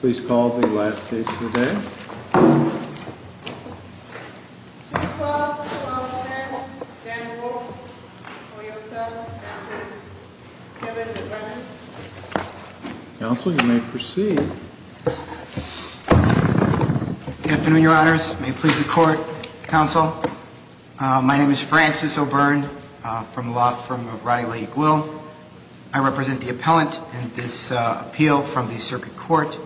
Please call the last case of the day. 2-12-11-10 Dan Wolf Toyota v. Francis O'Byrne Counsel, you may proceed. Good afternoon, your honors. May it please the court, counsel. My name is Francis O'Byrne from the law firm of Roddy Lake Will. I represent the appellant in this appeal from the circuit court.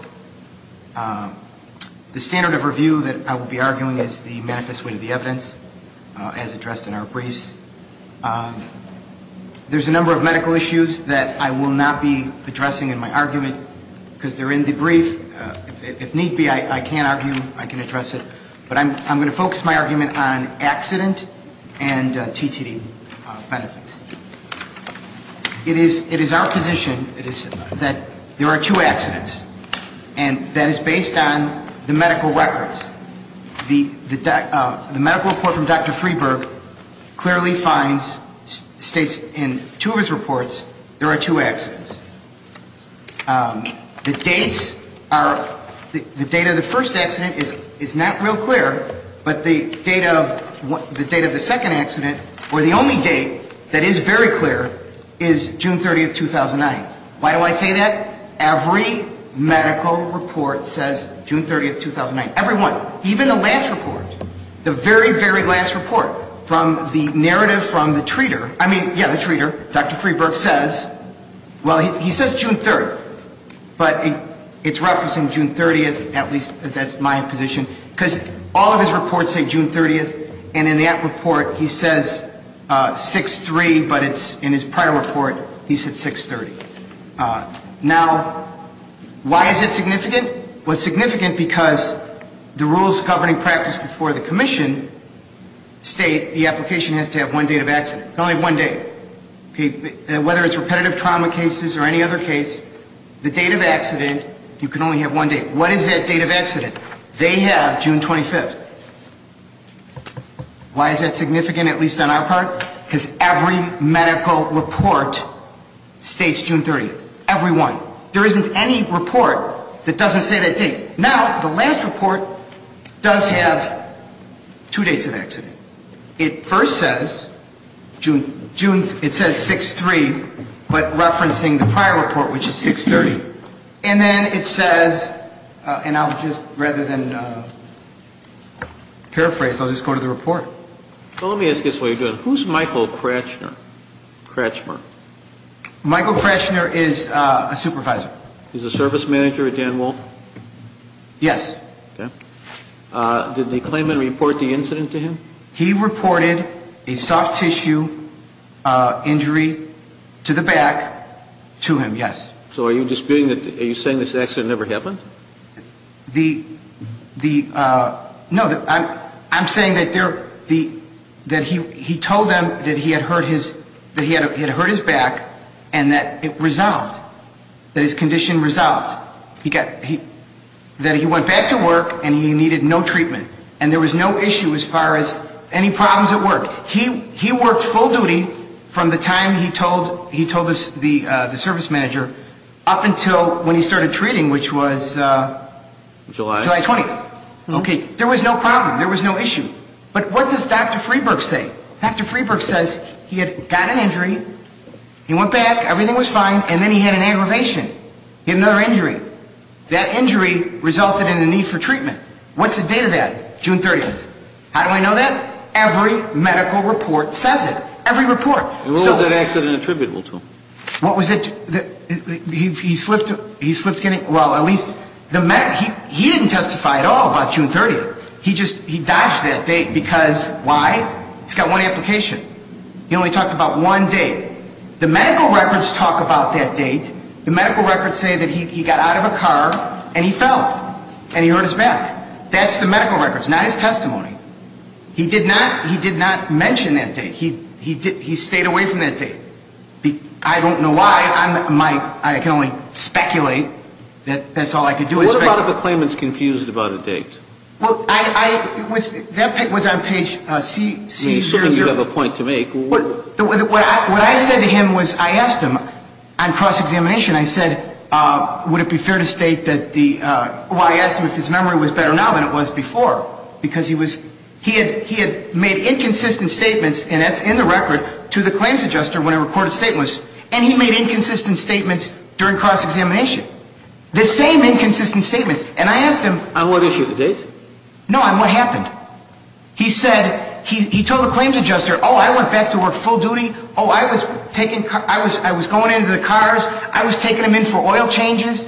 The standard of review that I will be arguing is the manifest way to the evidence as addressed in our briefs. There's a number of medical issues that I will not be addressing in my argument because they're in the brief. If need be, I can argue, I can address it. But I'm going to focus my argument on accident and TTD benefits. It is our position that there are two accidents. And that is based on the medical records. The medical report from Dr. Freeburg clearly states in two of his reports there are two accidents. The dates are, the date of the first accident is not real clear. But the date of the second accident, or the only date that is very clear, is June 30th, 2009. Why do I say that? Every medical report says June 30th, 2009. Every one. Even the last report, the very, very last report from the narrative from the treater. I mean, yeah, the treater, Dr. Freeburg says, well, he says June 30th. But it's referencing June 30th, at least that's my position. Because all of his reports say June 30th. And in that report he says 6-3, but it's in his prior report he said 6-30. Now, why is it significant? Well, it's significant because the rules governing practice before the commission state the application has to have one date of accident. It can only have one date. Whether it's repetitive trauma cases or any other case, the date of accident, you can only have one date. What is that date of accident? They have June 25th. Why is that significant, at least on our part? Because every medical report states June 30th. Every one. There isn't any report that doesn't say that date. Now, the last report does have two dates of accident. It first says 6-3, but referencing the prior report, which is 6-30. And then it says, and I'll just, rather than paraphrase, I'll just go to the report. Well, let me ask you this while you're doing it. Who's Michael Kratchmer? Michael Kratchmer is a supervisor. He's a service manager at Dan Wolf? Yes. Okay. Did they claim and report the incident to him? He reported a soft tissue injury to the back to him, yes. So are you disputing that, are you saying this accident never happened? The, no, I'm saying that he told them that he had hurt his back and that it resolved, that his condition resolved. That he went back to work and he needed no treatment. And there was no issue as far as any problems at work. He worked full duty from the time he told the service manager up until when he started treating, which was July 20th. Okay. There was no problem. There was no issue. But what does Dr. Freeberg say? Dr. Freeberg says he had gotten an injury, he went back, everything was fine, and then he had an aggravation. He had another injury. That injury resulted in a need for treatment. What's the date of that? June 30th. How do I know that? Every medical report says it. Every report. And what was that accident attributable to? What was it? He slipped, he slipped, well, at least, he didn't testify at all about June 30th. He just, he dodged that date because, why? It's got one application. He only talked about one date. The medical records talk about that date. The medical records say that he got out of a car and he fell and he hurt his back. That's the medical records, not his testimony. He did not mention that date. He stayed away from that date. I don't know why. I can only speculate. That's all I can do is speculate. What about if a claimant's confused about a date? Well, I was, that was on page C. I mean, assuming you have a point to make. What I said to him was, I asked him, on cross-examination, I said, would it be fair to state that the, well, I asked him if his memory was better now than it was before because he was, he had made inconsistent statements, and that's in the record, to the claims adjuster when I reported statements, and he made inconsistent statements during cross-examination. The same inconsistent statements. And I asked him. On what issue, the date? No, on what happened. He said, he told the claims adjuster, oh, I went back to work full duty, oh, I was taking, I was going into the cars, I was taking him in for oil changes.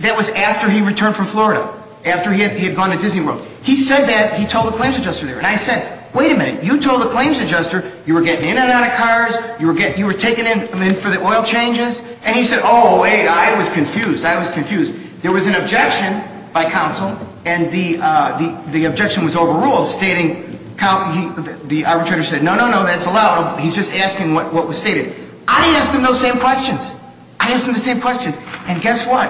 That was after he returned from Florida, after he had gone to Disney World. He said that, he told the claims adjuster there. And I said, wait a minute, you told the claims adjuster you were getting in and out of cars, you were taking him in for the oil changes, and he said, oh, wait, I was confused, I was confused. There was an objection by counsel, and the objection was overruled, stating, the arbitrator said, no, no, no, that's allowed, he's just asking what was stated. I didn't ask him those same questions. I didn't ask him the same questions. And guess what?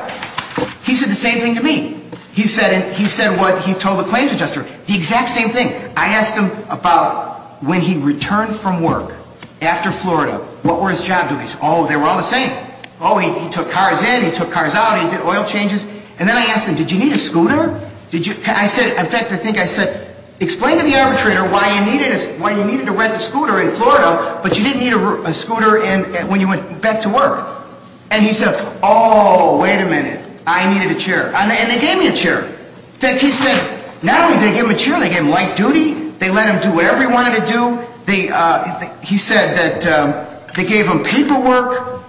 He said the same thing to me. He said what he told the claims adjuster. The exact same thing. I asked him about when he returned from work after Florida, what were his job duties? Oh, they were all the same. Oh, he took cars in, he took cars out, he did oil changes. And then I asked him, did you need a scooter? I said, in fact, I think I said, explain to the arbitrator why you needed to rent a scooter in Florida, but you didn't need a scooter when you went back to work. And he said, oh, wait a minute, I needed a chair. And they gave me a chair. In fact, he said not only did they give him a chair, they gave him light duty, they let him do whatever he wanted to do. He said that they gave him paperwork.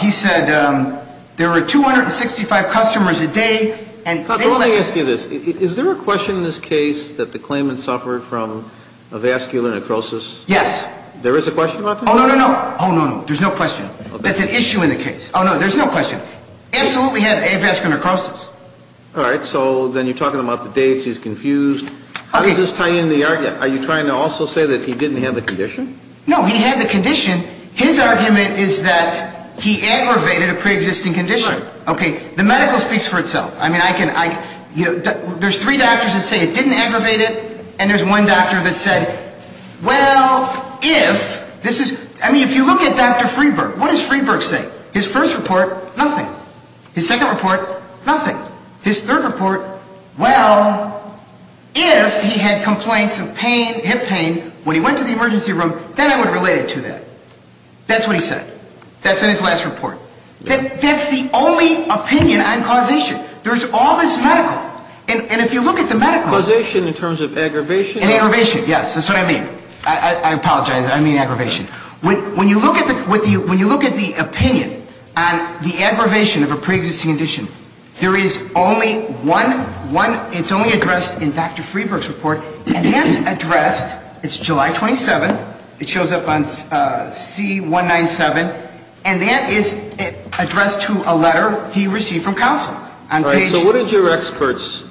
He said there were 265 customers a day. Let me ask you this. Is there a question in this case that the claimant suffered from a vascular necrosis? Yes. There is a question about that? Oh, no, no, no. Oh, no, no. There's no question. That's an issue in the case. Oh, no, there's no question. Absolutely had a vascular necrosis. All right. So then you're talking about the dates, he's confused. How does this tie in the argument? Are you trying to also say that he didn't have the condition? No, he had the condition. His argument is that he aggravated a preexisting condition. Okay. The medical speaks for itself. There's three doctors that say it didn't aggravate it, and there's one doctor that said, well, if, this is, I mean, if you look at Dr. Friedberg, what does Friedberg say? His first report, nothing. His second report, nothing. His third report, well, if he had complaints of pain, hip pain, when he went to the emergency room, then I would relate it to that. That's what he said. That's in his last report. That's the only opinion on causation. There's all this medical, and if you look at the medical. Causation in terms of aggravation? In aggravation, yes. That's what I mean. I apologize. I mean aggravation. When you look at the opinion on the aggravation of a preexisting condition, there is only one, it's only addressed in Dr. Friedberg's report. And that's addressed, it's July 27th, it shows up on C197, and that is addressed to a letter he received from counsel. All right. So what did your experts,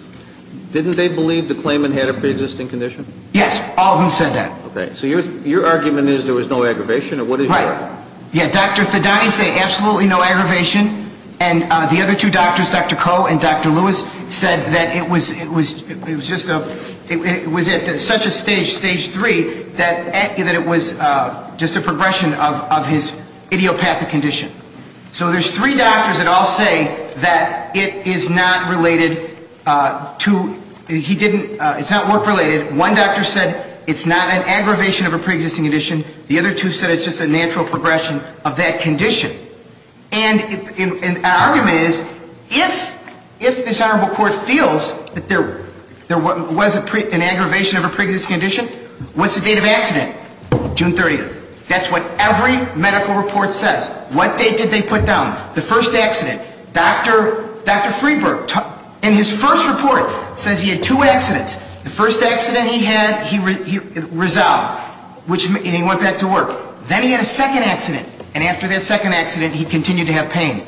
didn't they believe the claimant had a preexisting condition? Yes. All of them said that. Okay. So your argument is there was no aggravation, or what is your? Right. Yeah. Dr. Fidani said absolutely no aggravation, and the other two doctors, Dr. Koh and Dr. Lewis, said that it was, it was, it was just a, it was at such a stage, stage three, that it was just a progression of his idiopathic condition. So there's three doctors that all say that it is not related to, he didn't, it's not work-related. One doctor said it's not an aggravation of a preexisting condition. The other two said it's just a natural progression of that condition. And an argument is, if, if this Honorable Court feels that there was an aggravation of a preexisting condition, what's the date of accident? June 30th. That's what every medical report says. What date did they put down? The first accident. Dr. Freeburg, in his first report, says he had two accidents. The first accident he had, he resolved, and he went back to work. Then he had a second accident. And after that second accident, he continued to have pain.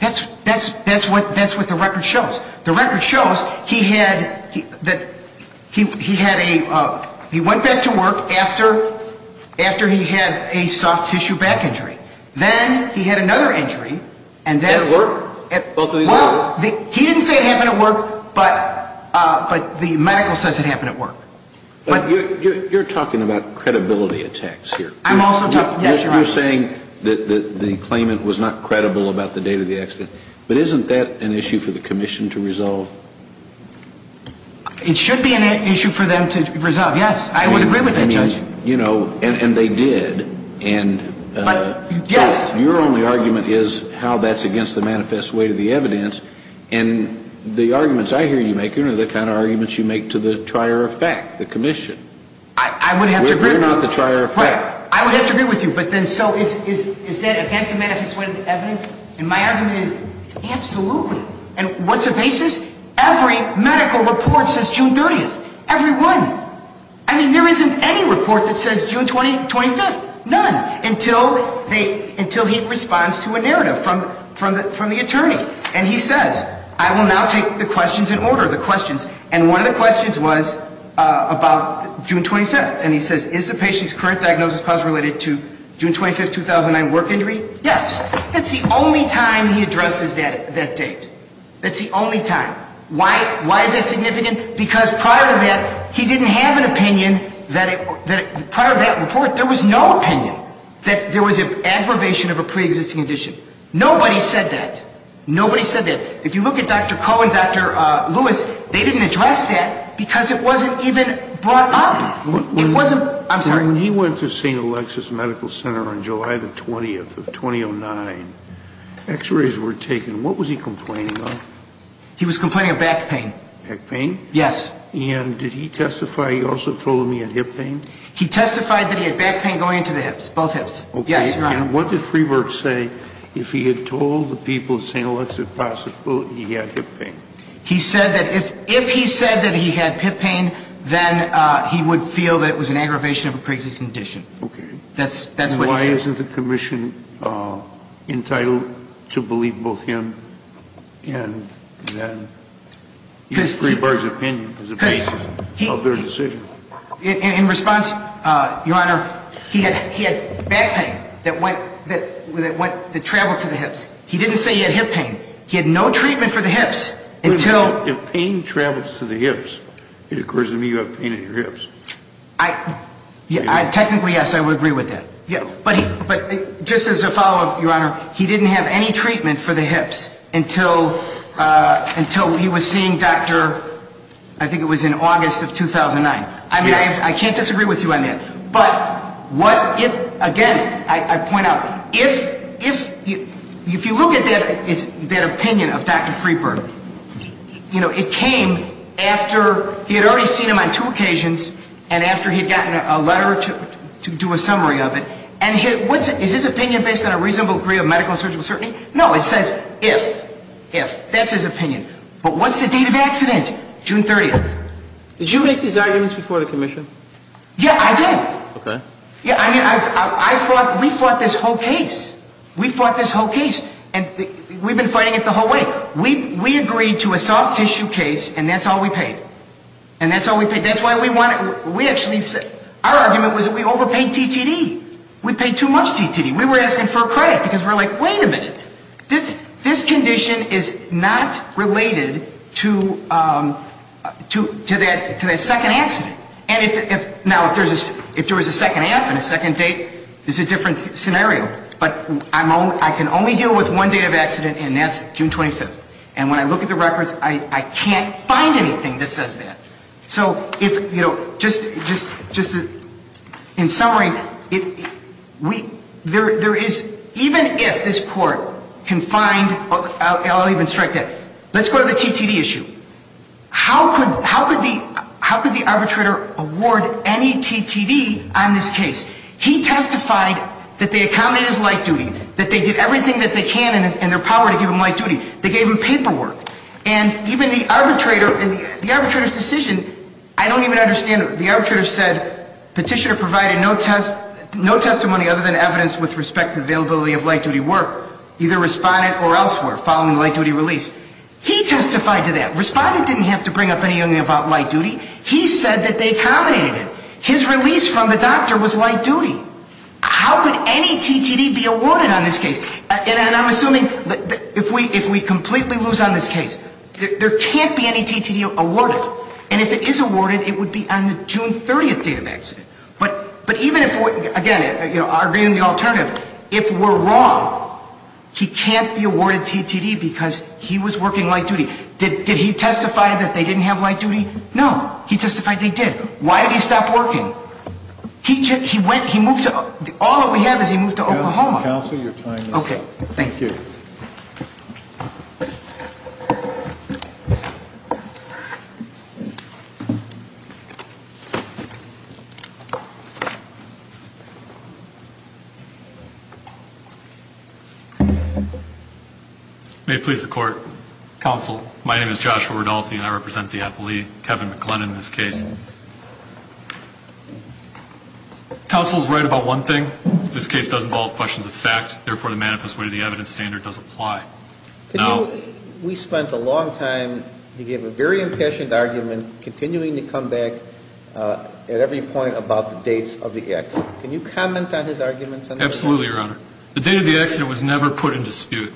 That's, that's, that's what, that's what the record shows. The record shows he had, that he, he had a, he went back to work after, after he had a soft tissue back injury. Then he had another injury, and that's... At work? Well, he didn't say it happened at work, but, but the medical says it happened at work. You're talking about credibility attacks here. I'm also talking, yes, Your Honor. You're saying that, that the claimant was not credible about the date of the accident. But isn't that an issue for the commission to resolve? It should be an issue for them to resolve, yes. I would agree with that, Judge. I mean, you know, and, and they did. And... But, yes. Your only argument is how that's against the manifest weight of the evidence. And the arguments I hear you making are the kind of arguments you make to the trier of fact, the commission. I, I would have to agree... We're not the trier of fact. I would have to agree with you. But then, so is, is, is that against the manifest weight of the evidence? And my argument is absolutely. And what's the basis? Every medical report says June 30th. Every one. I mean, there isn't any report that says June 20, 25th. None. Until they, until he responds to a narrative from, from the, from the attorney. And he says, I will now take the questions in order, the questions. And one of the questions was about June 25th. And he says, is the patient's current diagnosis possibly related to June 25th, 2009 work injury? Yes. That's the only time he addresses that, that date. That's the only time. Why? Why is that significant? Because prior to that, he didn't have an opinion that it, that prior to that report, there was no opinion that there was an aggravation of a preexisting condition. Nobody said that. Nobody said that. If you look at Dr. Koh and Dr. Lewis, they didn't address that because it wasn't even brought up. It wasn't, I'm sorry. When he went to St. Alexis Medical Center on July the 20th of 2009, x-rays were taken. What was he complaining of? He was complaining of back pain. Back pain? Yes. And did he testify, he also told him he had hip pain? He testified that he had back pain going into the hips, both hips. Okay. Yes, Your Honor. And what did Freeberg say if he had told the people at St. Alexis possible he had hip pain? He said that if he said that he had hip pain, then he would feel that it was an aggravation of a preexisting condition. Okay. That's what he said. Why isn't the commission entitled to believe both him and then use Freeberg's opinion as a basis of their decision? In response, Your Honor, he had back pain that went, that traveled to the hips. He didn't say he had hip pain. He had no treatment for the hips until. If pain travels to the hips, it occurs to me you have pain in your hips. Technically, yes, I would agree with that. But just as a follow-up, Your Honor, he didn't have any treatment for the hips until he was seeing Dr. I think it was in August of 2009. I mean, I can't disagree with you on that. But what if, again, I point out, if you look at that opinion of Dr. Freeberg, you know, it came after he had already seen him on two occasions and after he had gotten a letter to do a summary of it. And is his opinion based on a reasonable degree of medical and surgical certainty? No, it says if, if. That's his opinion. But what's the date of accident? June 30th. Did you make these arguments before the commission? Yeah, I did. Okay. Yeah, I mean, I, I fought, we fought this whole case. We fought this whole case. And we've been fighting it the whole way. We, we agreed to a soft tissue case and that's all we paid. And that's all we paid. That's why we wanted, we actually, our argument was that we overpaid TTD. We paid too much TTD. We were asking for credit because we were like, wait a minute. This, this condition is not related to, to, to that, to that second accident. And if, if, now, if there's a, if there was a second accident and a second date, it's a different scenario. But I'm only, I can only deal with one day of accident and that's June 25th. And when I look at the records, I, I can't find anything that says that. So if, you know, just, just, just in summary, it, we, there, there is, even if this court can find, I'll, I'll even strike that, let's go to the TTD issue. How could, how could the, how could the arbitrator award any TTD on this case? He testified that they accommodated his light duty, that they did everything that they can in, in their power to give him light duty. They gave him paperwork. And even the arbitrator, the arbitrator's decision, I don't even understand, the arbitrator said, petitioner provided no test, no testimony other than evidence with respect to the availability of light duty work, either respondent or elsewhere following the light duty release. He testified to that. Respondent didn't have to bring up anything about light duty. He said that they accommodated him. His release from the doctor was light duty. How could any TTD be awarded on this case? And, and I'm assuming that if we, if we completely lose on this case, there, there can't be any TTD awarded. And if it is awarded, it would be on the June 30th date of accident. But, but even if we, again, you know, arguing the alternative, if we're wrong, he was working light duty. Did, did he testify that they didn't have light duty? No. He testified they did. Why did he stop working? He just, he went, he moved to, all that we have is he moved to Oklahoma. Counselor, your time is up. Okay. Thank you. May it please the court. Counsel, my name is Joshua Rodolfi and I represent the appellee, Kevin McLennan, in this case. Counsel is right about one thing. This case does involve questions of fact. Therefore, the manifest way to the evidence standard does apply. Can you, we spent a long time, you gave a very impassioned argument, continuing to come back at every point about the dates of the accident. Can you comment on his arguments on that? Absolutely, Your Honor. The date of the accident was never put in dispute.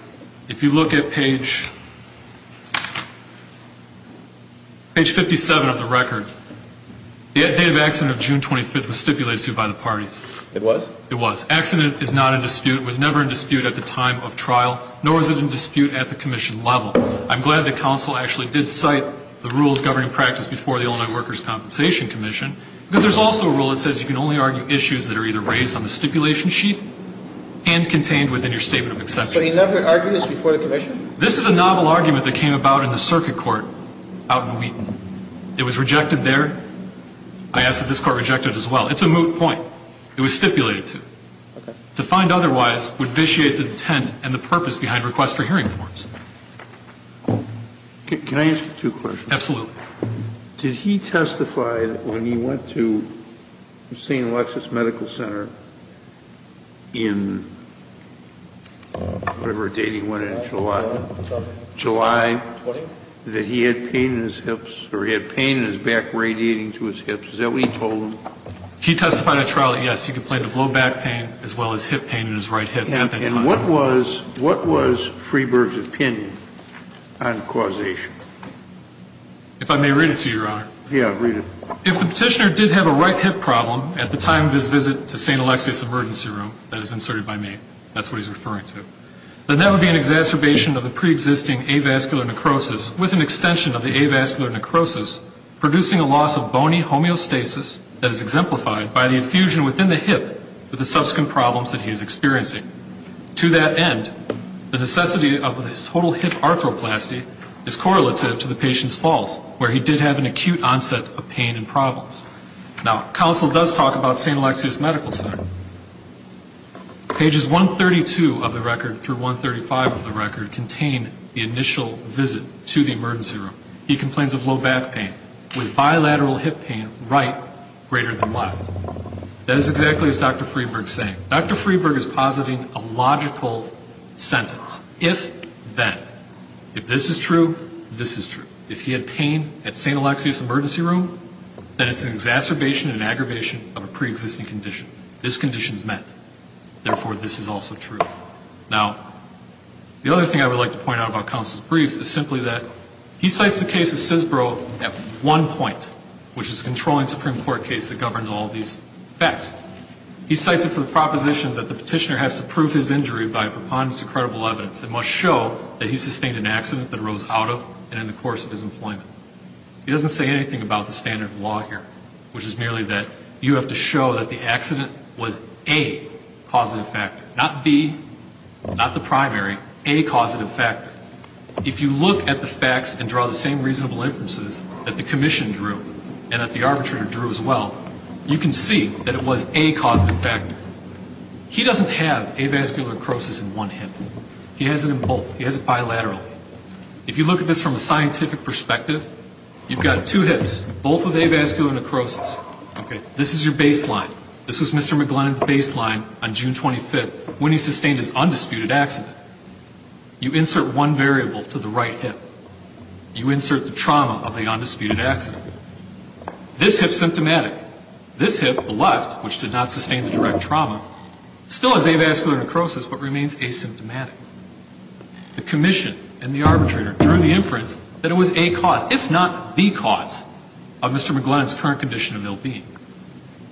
If you look at page, page 57 of the record, the date of accident of June 25th was stipulated by the parties. It was? It was. It was never put in dispute at the time of trial, nor was it in dispute at the commission level. I'm glad that counsel actually did cite the rules governing practice before the Illinois Workers' Compensation Commission, because there's also a rule that says you can only argue issues that are either raised on the stipulation sheet and contained within your statement of exception. But he's never argued this before the commission? This is a novel argument that came about in the circuit court out in Wheaton. It was rejected there. I ask that this court reject it as well. It's a moot point. It was stipulated to. To find otherwise would vitiate the intent and the purpose behind requests for hearing forms. Can I ask you two questions? Absolutely. Did he testify when he went to St. Alexis Medical Center in whatever date he went in, July, that he had pain in his hips or he had pain in his back radiating to his hips? Is that what he told them? He testified at trial that, yes, he complained of low back pain as well as hip pain in his right hip at that time. And what was Freeberg's opinion on causation? If I may read it to you, Your Honor. Yeah, read it. If the petitioner did have a right hip problem at the time of his visit to St. Alexis Emergency Room, that is inserted by me, that's what he's referring to, then that would be an exacerbation of the preexisting avascular necrosis with an extension of the effusion within the hip with the subsequent problems that he is experiencing. To that end, the necessity of his total hip arthroplasty is correlative to the patient's falls where he did have an acute onset of pain and problems. Now, counsel does talk about St. Alexis Medical Center. Pages 132 of the record through 135 of the record contain the initial visit to the emergency room. He complains of low back pain with bilateral hip pain right greater than left. That is exactly as Dr. Freeberg is saying. Dr. Freeberg is positing a logical sentence. If that, if this is true, this is true. If he had pain at St. Alexis Emergency Room, then it's an exacerbation and aggravation of a preexisting condition. This condition is met. Therefore, this is also true. Now, the other thing I would like to point out about counsel's briefs is simply that he cites the case of Sisbro at one point, which is a controlling Supreme Court case that governs all these facts. He cites it for the proposition that the petitioner has to prove his injury by preponderance of credible evidence. It must show that he sustained an accident that arose out of and in the course of his employment. He doesn't say anything about the standard of law here, which is merely that you have to show that the accident was A, causative factor. Not B, not the primary. A, causative factor. If you look at the facts and draw the same reasonable inferences that the commission drew and that the arbitrator drew as well, you can see that it was A, causative factor. He doesn't have avascular necrosis in one hip. He has it in both. He has it bilaterally. If you look at this from a scientific perspective, you've got two hips, both with avascular necrosis. This is your baseline. This was Mr. McGlennan's baseline on June 25th when he sustained his undisputed accident. You insert one variable to the right hip. You insert the trauma of the undisputed accident. This hip is symptomatic. This hip, the left, which did not sustain the direct trauma, still has avascular necrosis but remains asymptomatic. The commission and the arbitrator drew the inference that it was A, cause, if not B, cause, of Mr. McGlennan's current condition of ill-being.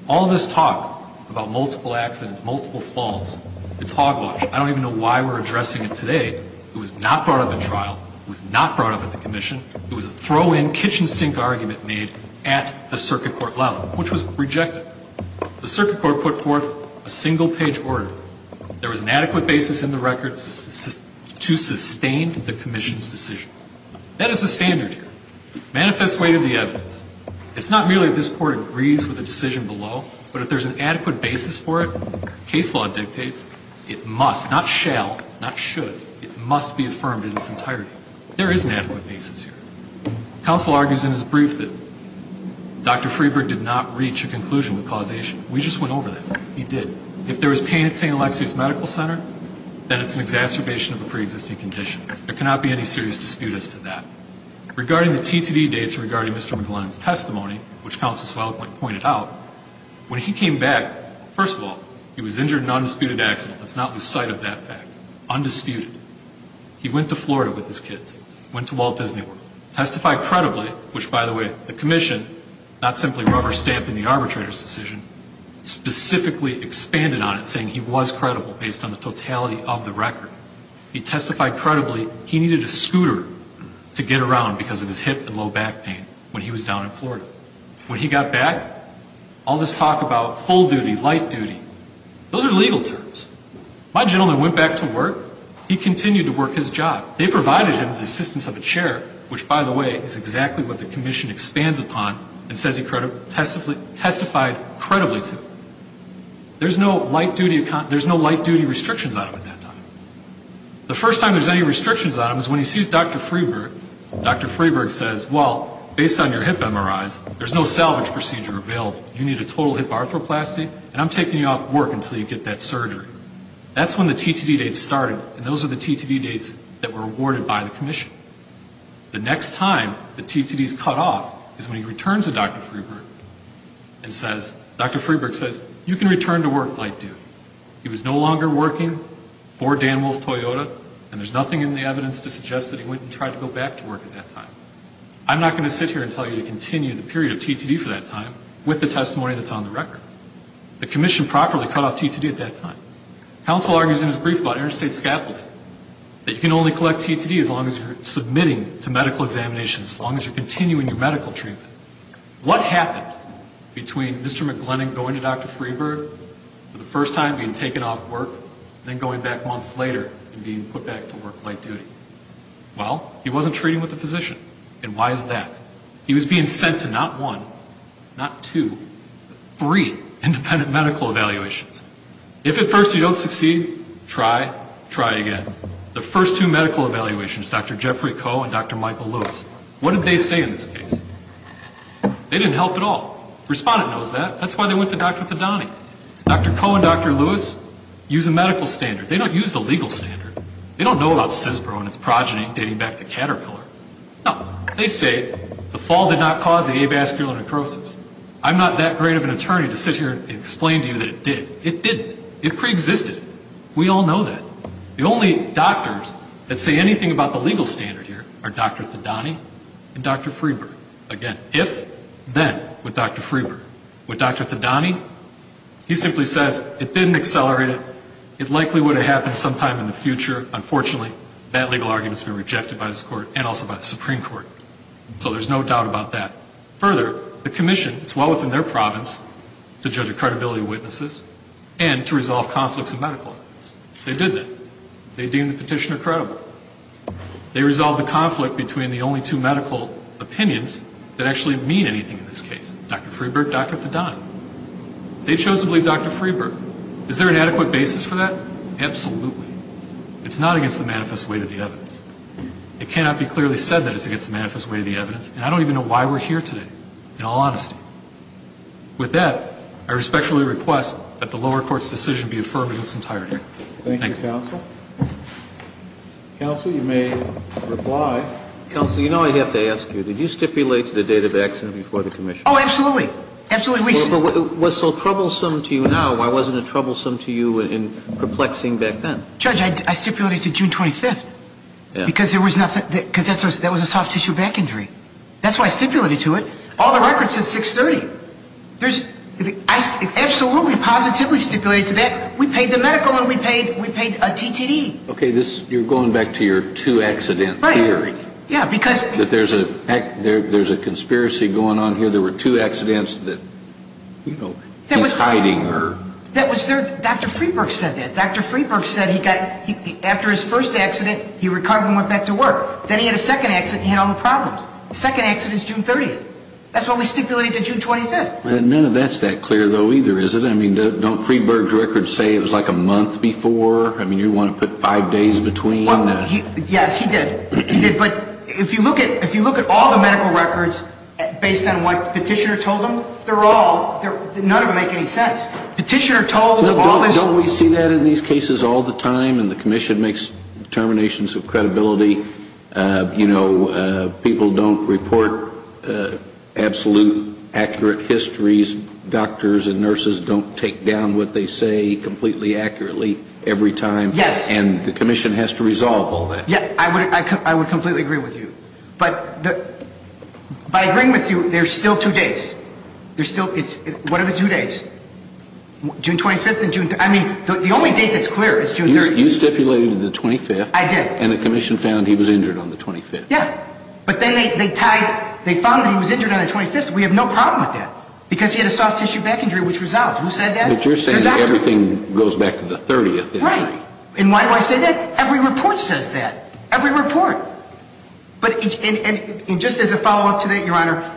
All this talk about multiple accidents, multiple falls, it's hogwash. I don't even know why we're addressing it today. It was not brought up in trial. It was not brought up at the commission. It was a throw-in, kitchen sink argument made at the circuit court level, which was rejected. The circuit court put forth a single-page order. There was an adequate basis in the record to sustain the commission's decision. That is the standard here. Manifest way to the evidence. It's not merely this court agrees with the decision below, but if there's an not shall, not should, it must be affirmed in its entirety. There is an adequate basis here. Counsel argues in his brief that Dr. Freeburg did not reach a conclusion with causation. We just went over that. He did. If there was pain at St. Alexi's Medical Center, then it's an exacerbation of a preexisting condition. There cannot be any serious dispute as to that. Regarding the T2D dates regarding Mr. McGlennan's testimony, which Counsel Swalwick pointed out, when he came back, first of all, he was injured in an undisputed. He went to Florida with his kids. Went to Walt Disney World. Testified credibly, which, by the way, the commission, not simply rubber-stamping the arbitrator's decision, specifically expanded on it, saying he was credible based on the totality of the record. He testified credibly he needed a scooter to get around because of his hip and low back pain when he was down in Florida. When he got back, all this talk about full duty, light duty, those are legal terms. My gentleman went back to work. He continued to work his job. They provided him the assistance of a chair, which, by the way, is exactly what the commission expands upon and says he testified credibly to. There's no light duty restrictions on him at that time. The first time there's any restrictions on him is when he sees Dr. Freeburg. Dr. Freeburg says, well, based on your hip MRIs, there's no salvage procedure available. You need a total hip arthroplasty, and I'm taking you off work until you get that surgery. That's when the TTD date started, and those are the TTD dates that were awarded by the commission. The next time the TTD is cut off is when he returns to Dr. Freeburg and says, Dr. Freeburg says, you can return to work light duty. He was no longer working for Dan Wolf Toyota, and there's nothing in the evidence to suggest that he went and tried to go back to work at that time. I'm not going to sit here and tell you to continue the period of TTD for that time with the testimony that's on the record. The commission properly cut off TTD at that time. Counsel argues in his brief about interstate scaffolding, that you can only collect TTD as long as you're submitting to medical examinations, as long as you're continuing your medical treatment. What happened between Mr. McGlennon going to Dr. Freeburg for the first time and being taken off work, and then going back months later and being put back to work light duty? Well, he wasn't treating with a physician, and why is that? He was being sent to not one, not two, but three independent medical evaluations. If at first you don't succeed, try, try again. The first two medical evaluations, Dr. Jeffrey Koh and Dr. Michael Lewis, what did they say in this case? They didn't help at all. The respondent knows that. That's why they went to Dr. Fadani. Dr. Koh and Dr. Lewis use a medical standard. They don't use the legal standard. They don't know about CISPR and its progeny dating back to Caterpillar. No. They say the fall did not cause the avascular necrosis. I'm not that great of an attorney to sit here and explain to you that it did. It didn't. It preexisted. We all know that. The only doctors that say anything about the legal standard here are Dr. Fadani and Dr. Freeburg. Again, if, then, with Dr. Freeburg. With Dr. Fadani, he simply says it didn't accelerate. It likely would have happened sometime in the future. Unfortunately, that legal argument has been rejected by this Court and also by the Supreme Court. So there's no doubt about that. Further, the Commission, it's well within their province to judge a credibility of witnesses and to resolve conflicts of medical evidence. They did that. They deemed the petitioner credible. They resolved the conflict between the only two medical opinions that actually mean anything in this case, Dr. Freeburg, Dr. Fadani. They chose to believe Dr. Freeburg. Is there an adequate basis for that? Absolutely. It's not against the manifest weight of the evidence. It cannot be clearly said that it's against the manifest weight of the evidence, and I don't even know why we're here today, in all honesty. With that, I respectfully request that the lower court's decision be affirmed in its entirety. Thank you. Thank you, counsel. Counsel, you may reply. Counsel, you know I have to ask you, did you stipulate the date of accident before the Commission? Oh, absolutely. Absolutely. But what's so troublesome to you now, why wasn't it troublesome to you in perplexing back then? Judge, I stipulated to June 25th. Yeah. Because that was a soft tissue back injury. That's why I stipulated to it. All the records said 6-30. I absolutely positively stipulated to that. We paid the medical and we paid a TTD. Okay, you're going back to your two-accident theory. Right. Yeah, because. That there's a conspiracy going on here. There were two accidents that, you know, he's hiding. Dr. Freeburg said that. Dr. Freeburg said he got, after his first accident, he recovered and went back to work. Then he had a second accident and he had all the problems. The second accident is June 30th. That's what we stipulated to June 25th. None of that's that clear, though, either, is it? I mean, don't Freeburg's records say it was like a month before? I mean, you want to put five days between? Well, yes, he did. He did. But if you look at all the medical records based on what the petitioner told them, they're all, none of them make any sense. Petitioner told them all this. Don't we see that in these cases all the time and the commission makes determinations of credibility? You know, people don't report absolute accurate histories. Doctors and nurses don't take down what they say completely accurately every time. Yes. And the commission has to resolve all that. Yeah, I would completely agree with you. But by agreeing with you, there's still two days. There's still, what are the two days? June 25th and June 30th. I mean, the only date that's clear is June 30th. You stipulated the 25th. I did. And the commission found he was injured on the 25th. Yeah. But then they tied, they found that he was injured on the 25th. We have no problem with that because he had a soft tissue back injury, which resolved. Who said that? The doctor. But you're saying everything goes back to the 30th. Right. And why do I say that? Every report says that. Every report. And just as a follow-up to that, Your Honor,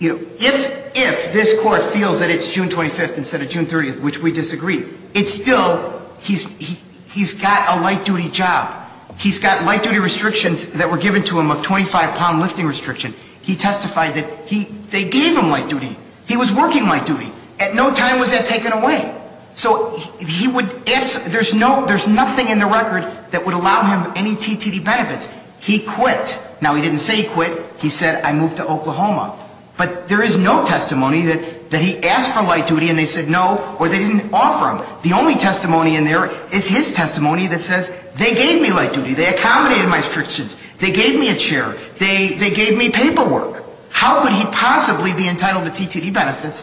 if this court feels that it's June 25th instead of June 30th, which we disagree, it's still, he's got a light-duty job. He's got light-duty restrictions that were given to him of 25-pound lifting restriction. He testified that they gave him light-duty. He was working light-duty. At no time was that taken away. So he would, there's nothing in the record that would allow him any TTD benefits. He quit. Now, he didn't say he quit. He said, I moved to Oklahoma. But there is no testimony that he asked for light-duty and they said no or they didn't offer him. The only testimony in there is his testimony that says they gave me light-duty. They accommodated my restrictions. They gave me a chair. They gave me paperwork. How could he possibly be entitled to TTD benefits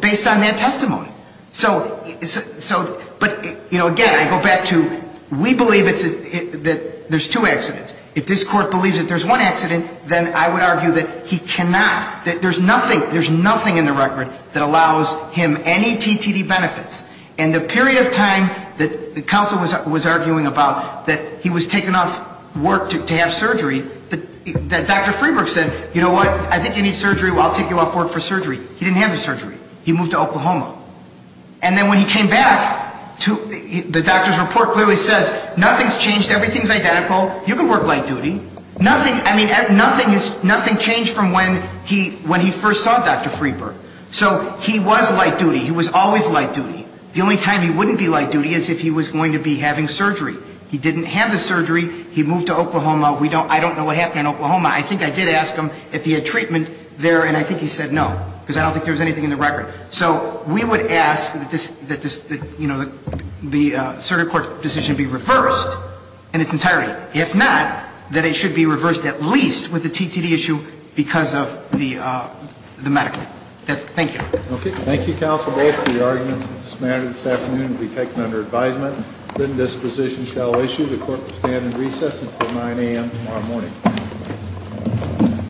based on that testimony? So, but, you know, again, I go back to we believe it's, that there's two accidents. If this court believes that there's one accident, then I would argue that he cannot, that there's nothing, there's nothing in the record that allows him any TTD benefits. And the period of time that the counsel was arguing about that he was taken off work to have surgery, that Dr. Freeburg said, you know what, I think you need surgery, I'll take you off work for surgery. He didn't have the surgery. He moved to Oklahoma. And then when he came back, the doctor's report clearly says nothing's changed, everything's identical, you can work light-duty. Nothing, I mean, nothing is, nothing changed from when he, when he first saw Dr. Freeburg. So he was light-duty. He was always light-duty. The only time he wouldn't be light-duty is if he was going to be having surgery. He didn't have the surgery. He moved to Oklahoma. We don't, I don't know what happened in Oklahoma. I think I did ask him if he had treatment there, and I think he said no, because I don't think there was anything in the record. So we would ask that this, that this, you know, the circuit court decision be reversed in its entirety. If not, then it should be reversed at least with the TTD issue because of the medical. Thank you. Okay. Thank you, counsel, both for your arguments. This matter this afternoon will be taken under advisement. Then this position shall issue. The court will stand in recess until 9 a.m. tomorrow morning.